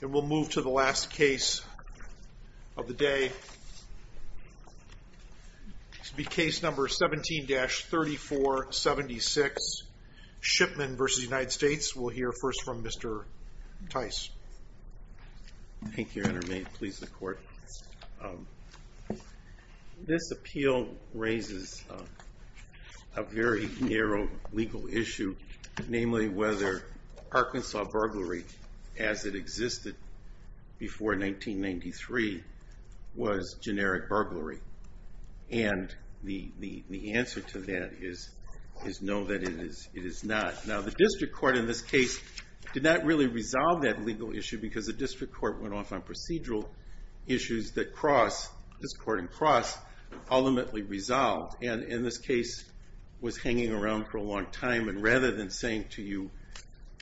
And we'll move to the last case of the day. This will be case number 17-3476, Shipman v. United States. We'll hear first from Mr. Tice. Thank you, Your Honor. May it please the court. This appeal raises a very narrow legal issue, namely whether Arkansas burglary, as it existed before 1993, was generic burglary. And the answer to that is no, that it is not. Now, the district court in this case did not really resolve that legal issue because the district court went off on procedural issues that cross, this court and cross, ultimately resolved. And this case was hanging around for a long time. And rather than saying to you,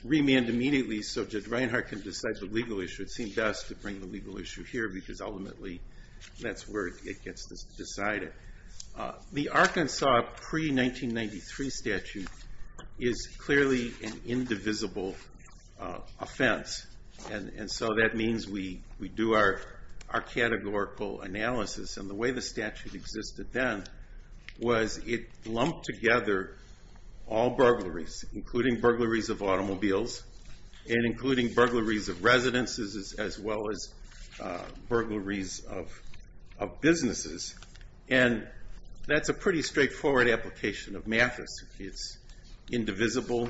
remand immediately so Judge Reinhart can decide the legal issue, it seemed best to bring the legal issue here because ultimately that's where it gets decided. The Arkansas pre-1993 statute is clearly an indivisible offense. And so that means we do our categorical analysis. And the way the statute existed then was it lumped together all burglaries, including burglaries of automobiles and including burglaries of residences as well as burglaries of businesses. And that's a pretty straightforward application of Mathis. It's indivisible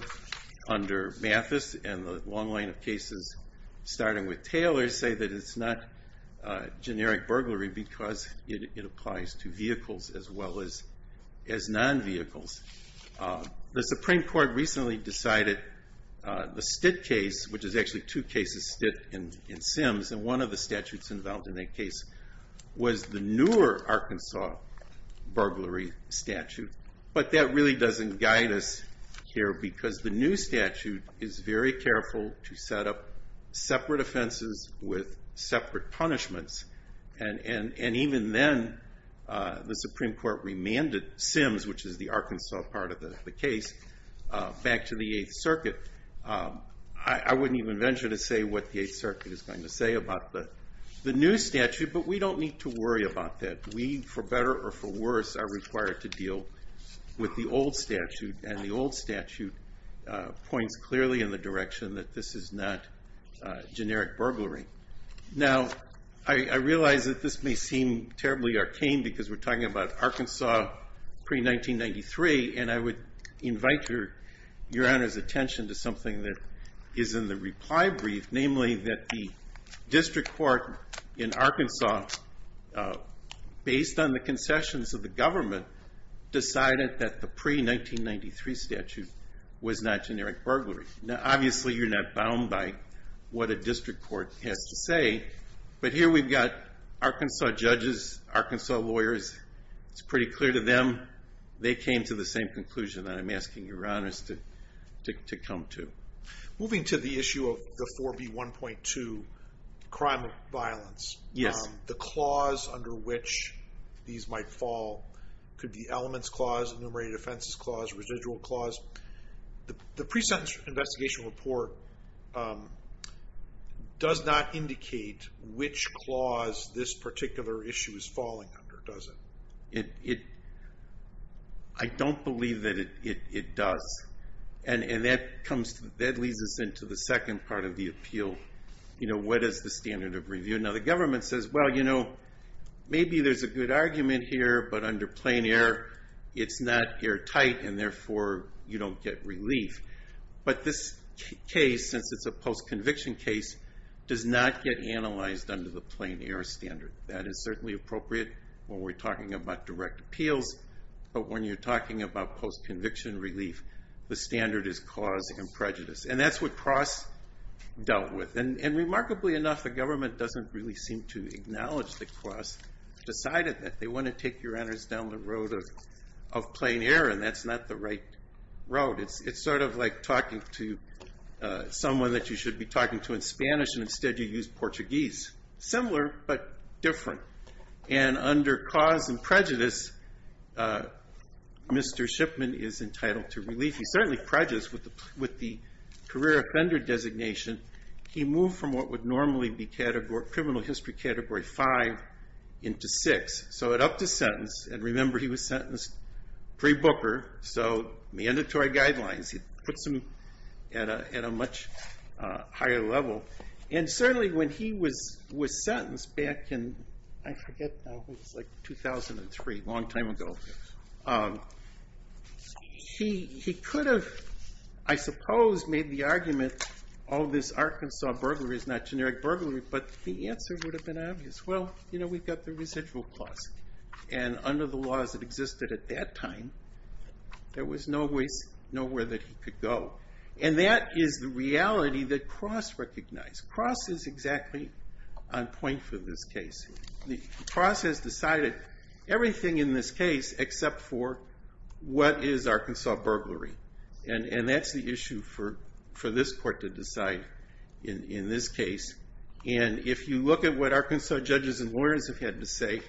under Mathis. And the long line of cases, starting with Taylor, say that it's not generic burglary because it applies to vehicles as well as non-vehicles. The Supreme Court recently decided the Stitt case, which is actually two cases, Stitt and Sims, and one of the statutes involved in that case was the newer Arkansas burglary statute. But that really doesn't guide us here because the new statute is very careful to set up separate offenses with separate punishments. And even then, the Supreme Court remanded Sims, which is the Arkansas part of the case, back to the Eighth Circuit. I wouldn't even venture to say what the Eighth Circuit is going to say about the new statute, but we don't need to worry about that. We, for better or for worse, are required to deal with the old statute. And the old statute points clearly in the direction that this is not generic burglary. Now, I realize that this may seem terribly arcane because we're talking about Arkansas pre-1993. And I would invite Your Honor's attention to something that is in the reply brief, namely that the district court in Arkansas, based on the concessions of the government, decided that the pre-1993 statute was not generic burglary. Now, obviously, you're not bound by what a district court has to say. But here we've got Arkansas judges, Arkansas lawyers. It's pretty clear to them. They came to the same conclusion that I'm asking Your Honors to come to. Moving to the issue of the 4B1.2, crime and violence. Yes. The clause under which these might fall could be elements clause, enumerated offenses clause, residual clause. The pre-sentence investigation report does not indicate which clause this particular issue is falling under, does it? I don't believe that it does. And that comes, that leads us into the second part of the appeal. You know, what is the standard of review? Now, the government says, well, you know, maybe there's a good argument here, but under plain air, it's not airtight, and therefore, you don't get relief. But this case, since it's a post-conviction case, does not get analyzed under the plain air standard. That is certainly appropriate when we're talking about direct appeals. But when you're talking about post-conviction relief, the standard is cause and prejudice. And that's what Cross dealt with. And remarkably enough, the government doesn't really seem to acknowledge the Cross. Decided that they want to take Your Honors down the road of plain air, and that's not the right road. It's sort of like talking to someone that you should be talking to in Spanish, and instead you use Portuguese. Similar, but different. And under cause and prejudice, Mr. Shipman is entitled to relief. He's certainly prejudiced with the career offender designation. He moved from what would normally be criminal history category five into six. So it upped his sentence, and remember, he was sentenced pre-Booker, so mandatory guidelines. He puts him at a much higher level. And certainly, when he was sentenced back in, I forget now, it was like 2003, a long time ago. He could have, I suppose, made the argument, all this Arkansas burglary is not generic burglary, but the answer would have been obvious. Well, we've got the residual cost. And under the laws that existed at that time, there was no way, nowhere that he could go. And that is the reality that Cross recognized. Cross is exactly on point for this case. The Cross has decided everything in this case, except for what is Arkansas burglary. And that's the issue for this court to decide in this case. And if you look at what Arkansas judges and lawyers have had to say,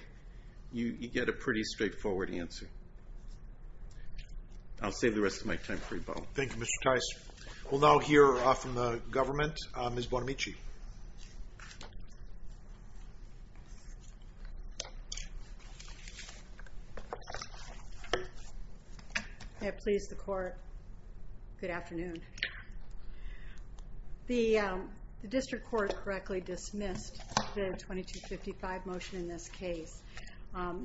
you get a pretty straightforward answer. I'll save the rest of my time for you both. Thank you, Mr. Tice. We'll now hear from the government, Ms. Bonamici. Yeah, please, the court. Good afternoon. The district court correctly dismissed the 2255 motion in this case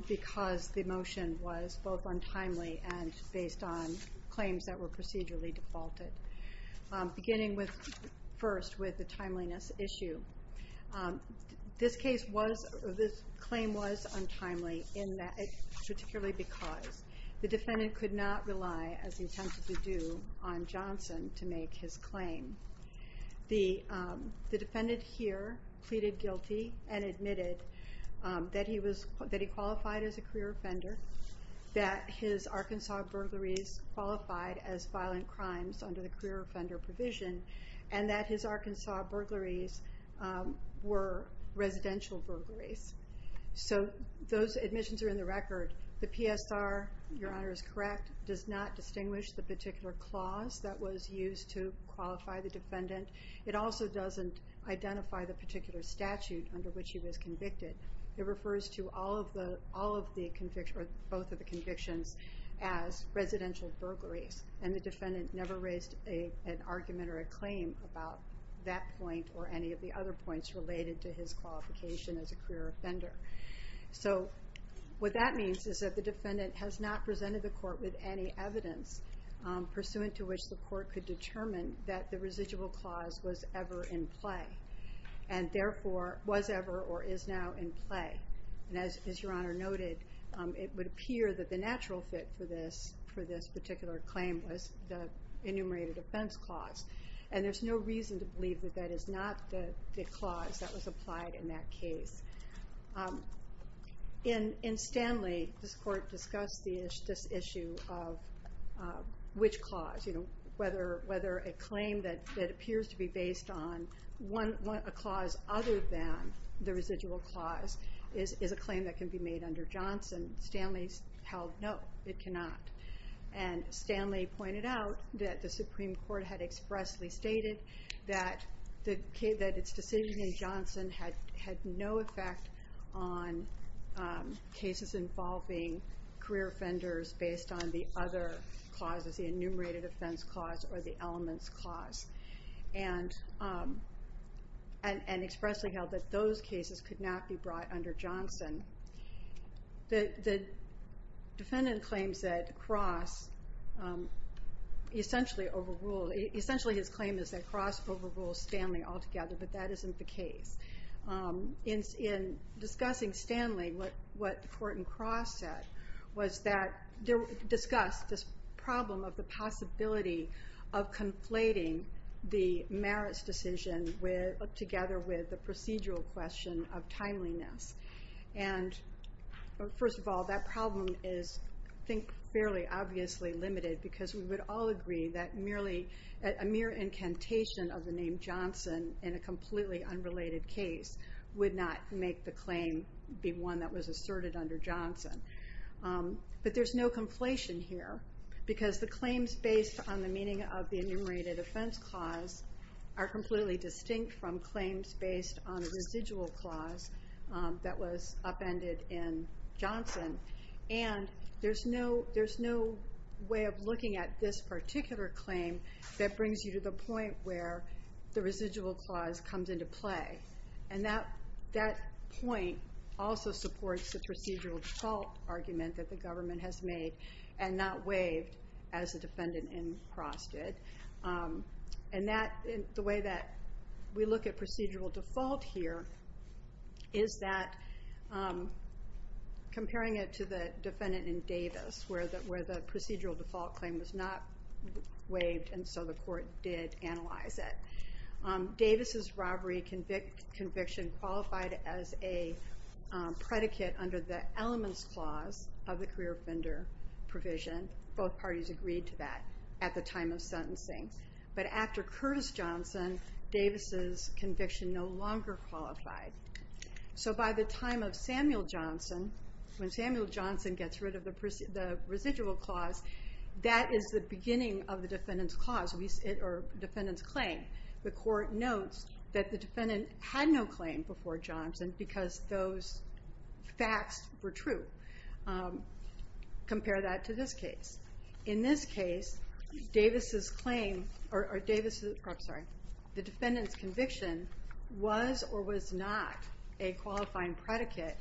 because the motion was both untimely and based on claims that were procedurally defaulted, beginning first with the timeliness issue. This case was, this claim was untimely in that, particularly because the defendant could not rely, as he attempted to do, on Johnson to make his claim. The defendant here pleaded guilty and admitted that he qualified as a career offender, that his Arkansas burglaries qualified as violent crimes under the career offender provision, and that his Arkansas burglaries were residential burglaries. So those admissions are in the record. The PSR, your honor is correct, does not distinguish the particular clause that was used to qualify the defendant. It also doesn't identify the particular statute under which he was convicted. It refers to all of the convictions, or both of the convictions, as residential burglaries. And the defendant never raised an argument or a claim about that point or any of the other points related to his qualification as a career offender. So what that means is that the defendant has not presented the court with any evidence pursuant to which the court could determine that the residual clause was ever in play, and therefore was ever or is now in play. And as your honor noted, it would appear that the natural fit for this particular claim was the enumerated offense clause. And there's no reason to believe that that is not the clause that was applied in that case. In Stanley, this court discussed this issue of which clause, whether a claim that appears to be based on a clause other than the residual clause is a claim that can be made under Johnson. Stanley held no, it cannot. And Stanley pointed out that the Supreme Court had expressly stated that its decision in Johnson had no effect on cases involving career offenders based on the other clauses, the enumerated offense clause or the elements clause, and expressly held that those cases could not be brought under Johnson. The defendant claims that Cross essentially overruled. Essentially, his claim is that Cross overrules Stanley altogether, but that isn't the case. In discussing Stanley, what the court in Cross said was that they discussed this problem of the possibility of conflating the merits decision together with the procedural question of timeliness. And first of all, that problem is, I think, fairly obviously limited. Because we would all agree that a mere incantation of the name Johnson in a completely unrelated case would not make the claim be one that was asserted under Johnson. But there's no conflation here. Because the claims based on the meaning of the enumerated offense clause are completely distinct from claims based on a residual clause that was upended in Johnson. And there's no way of looking at this particular claim that brings you to the point where the residual clause comes into play. And that point also supports the procedural default argument that the government has made and not waived as the defendant in Cross did. And the way that we look at procedural default here is that comparing it to the defendant in Davis, where the procedural default claim was not waived, and so the court did analyze it. Davis's robbery conviction qualified as a predicate under the elements clause of the career offender provision. Both parties agreed to that at the time of sentencing. But after Curtis Johnson, Davis's conviction no longer qualified. So by the time of Samuel Johnson, when Samuel Johnson gets rid of the residual clause, that is the beginning of the defendant's clause, or defendant's claim, the court notes that the defendant had no claim before Johnson because those facts were true. Compare that to this case. In this case, the defendant's conviction was or was not a qualifying predicate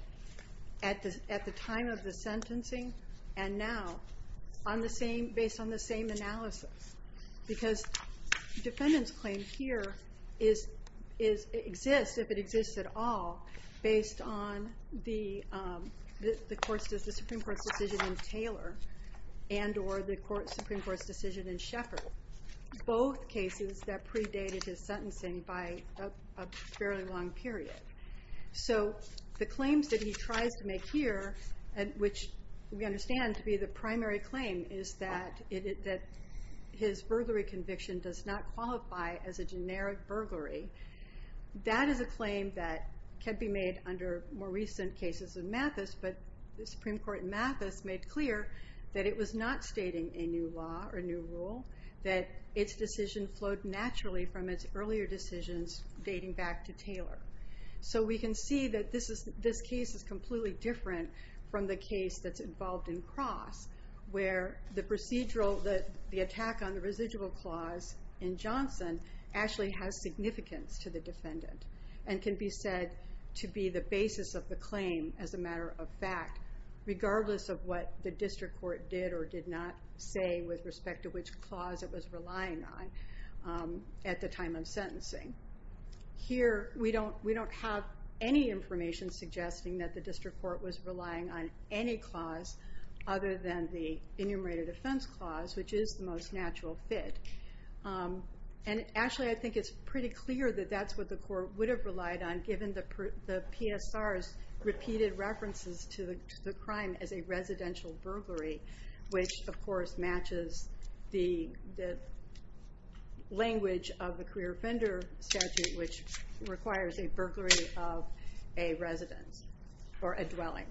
at the time of the sentencing and now on the same, based on the same analysis. Because defendant's claim here exists, if it exists at all, based on the Supreme Court's decision in Taylor and or the Supreme Court's decision in Shepherd. Both cases that predated his sentencing by a fairly long period. So the claims that he tries to make here, which we understand to be the primary claim, is that his burglary conviction does not qualify as a generic burglary. That is a claim that can be made under more recent cases of Mathis. But the Supreme Court in Mathis made clear that it was not stating a new law or a new rule, that its decision flowed naturally from its earlier decisions dating back to Taylor. So we can see that this case is completely different from the case that's involved in Cross, where the procedural, the attack on the residual clause in Johnson actually has significance to the defendant and can be said to be the basis of the claim as a matter of fact, regardless of what the district court did or did not say with respect to which clause it was relying on at the time of sentencing. Here, we don't have any information suggesting that the district court was relying on any clause other than the enumerated offense clause, which is the most natural fit. And actually, I think it's pretty clear that that's what the court would have relied on, given the PSR's repeated references to the crime as a residential burglary, which, of course, matches the language of the career offender statute, which requires a burglary of a residence or a dwelling.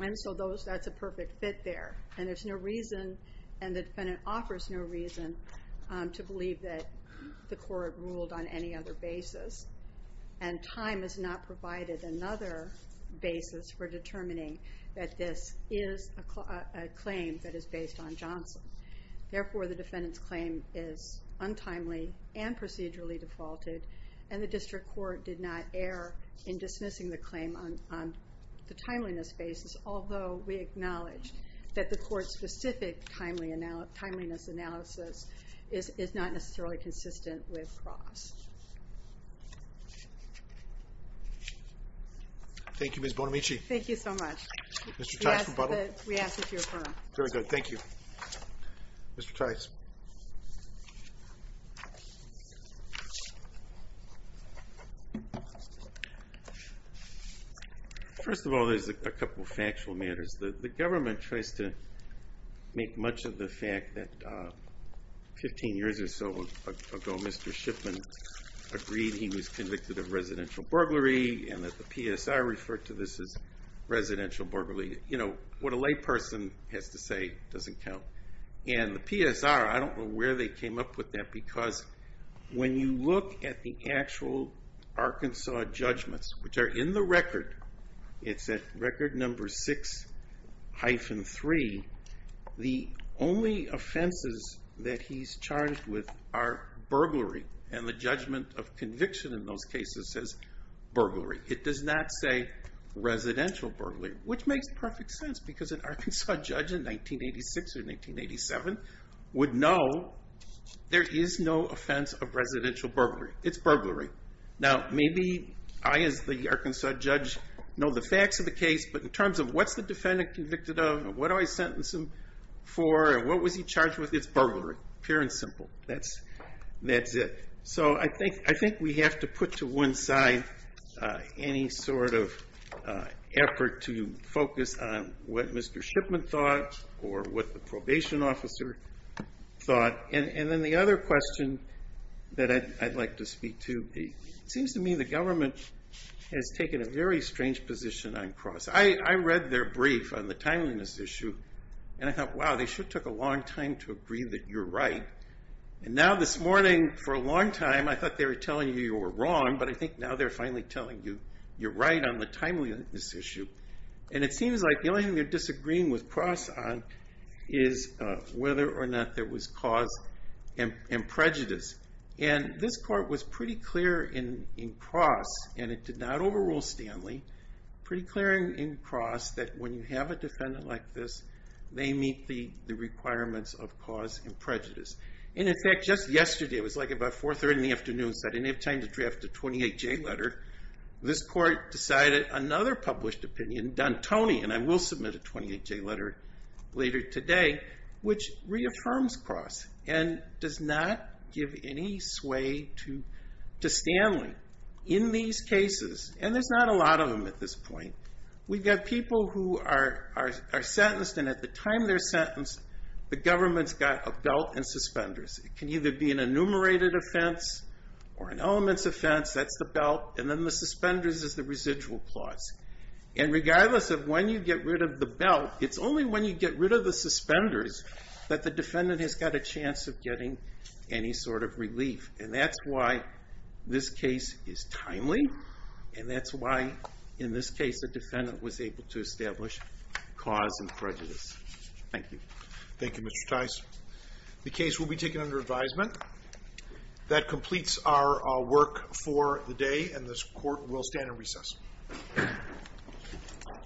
And so that's a perfect fit there. And there's no reason, and the defendant offers no reason, to believe that the court ruled on any other basis. And time has not provided another basis for determining that this is a claim that is based on Johnson. Therefore, the defendant's claim is untimely and procedurally defaulted, and the district court did not err in dismissing the claim on the timeliness basis, although we acknowledge that the court's specific timeliness analysis is not necessarily consistent with Ross. Thank you, Ms. Bonamici. Thank you so much. Mr. Teichman-Butler? We ask that you affirm. Very good. Thank you. Mr. Teichman-Butler? First of all, there's a couple of factual matters. The government tries to make much of the fact that 15 years or so ago, Mr. Shipman agreed he was convicted of residential burglary, and that the PSR referred to this as residential burglary. What a lay person has to say doesn't count. And the PSR, I don't know where they came up with that, because when you look at the actual Arkansas judgments, which are in the record, it's at record number 6-3, the only offenses that he's charged with are burglary. And the judgment of conviction in those cases says burglary. It does not say residential burglary, which makes perfect sense, because an Arkansas judge in 1986 or 1987 would know there is no offense of residential burglary. It's burglary. Now maybe I, as the Arkansas judge, know the facts of the case, but in terms of what's the defendant convicted of, what do I sentence him for, and what was he charged with, it's burglary, pure and simple. That's it. So I think we have to put to one side any sort of effort to focus on what Mr. Shipman thought, or what the probation officer thought. And then the other question that I'd like to speak to, it seems to me the government has taken a very strange position on cross. I read their brief on the timeliness issue, and I thought, wow, they sure took a long time to agree that you're right. And now this morning, for a long time, I thought they were telling you you were wrong, but I think now they're finally telling you you're right on the timeliness issue. And it seems like the only thing they're disagreeing with cross on is whether or not there was cause and prejudice. And this court was pretty clear in cross, and it did not overrule Stanley, pretty clear in cross that when you have a defendant like this, they meet the requirements of cause and prejudice. And in fact, just yesterday, it was like about 4 o'clock in the afternoon, they didn't have time to draft a 28-J letter. This court decided another published opinion, D'Antoni, and I will submit a 28-J letter later today, which reaffirms cross and does not give any sway to Stanley. In these cases, and there's not a lot of them at this point, we've got people who are sentenced, and at the time they're sentenced, the government's got a belt and suspenders. It can either be an enumerated offense or an elements offense. That's the belt, and then the suspenders is the residual clause. And regardless of when you get rid of the belt, it's only when you get rid of the suspenders that the defendant has got a chance of getting any sort of relief. And that's why this case is timely, and that's why in this case, the defendant was able to establish cause and prejudice. Thank you. Thank you, Mr. Tice. The case will be taken under advisement. That completes our work for the day, and this court will stand in recess.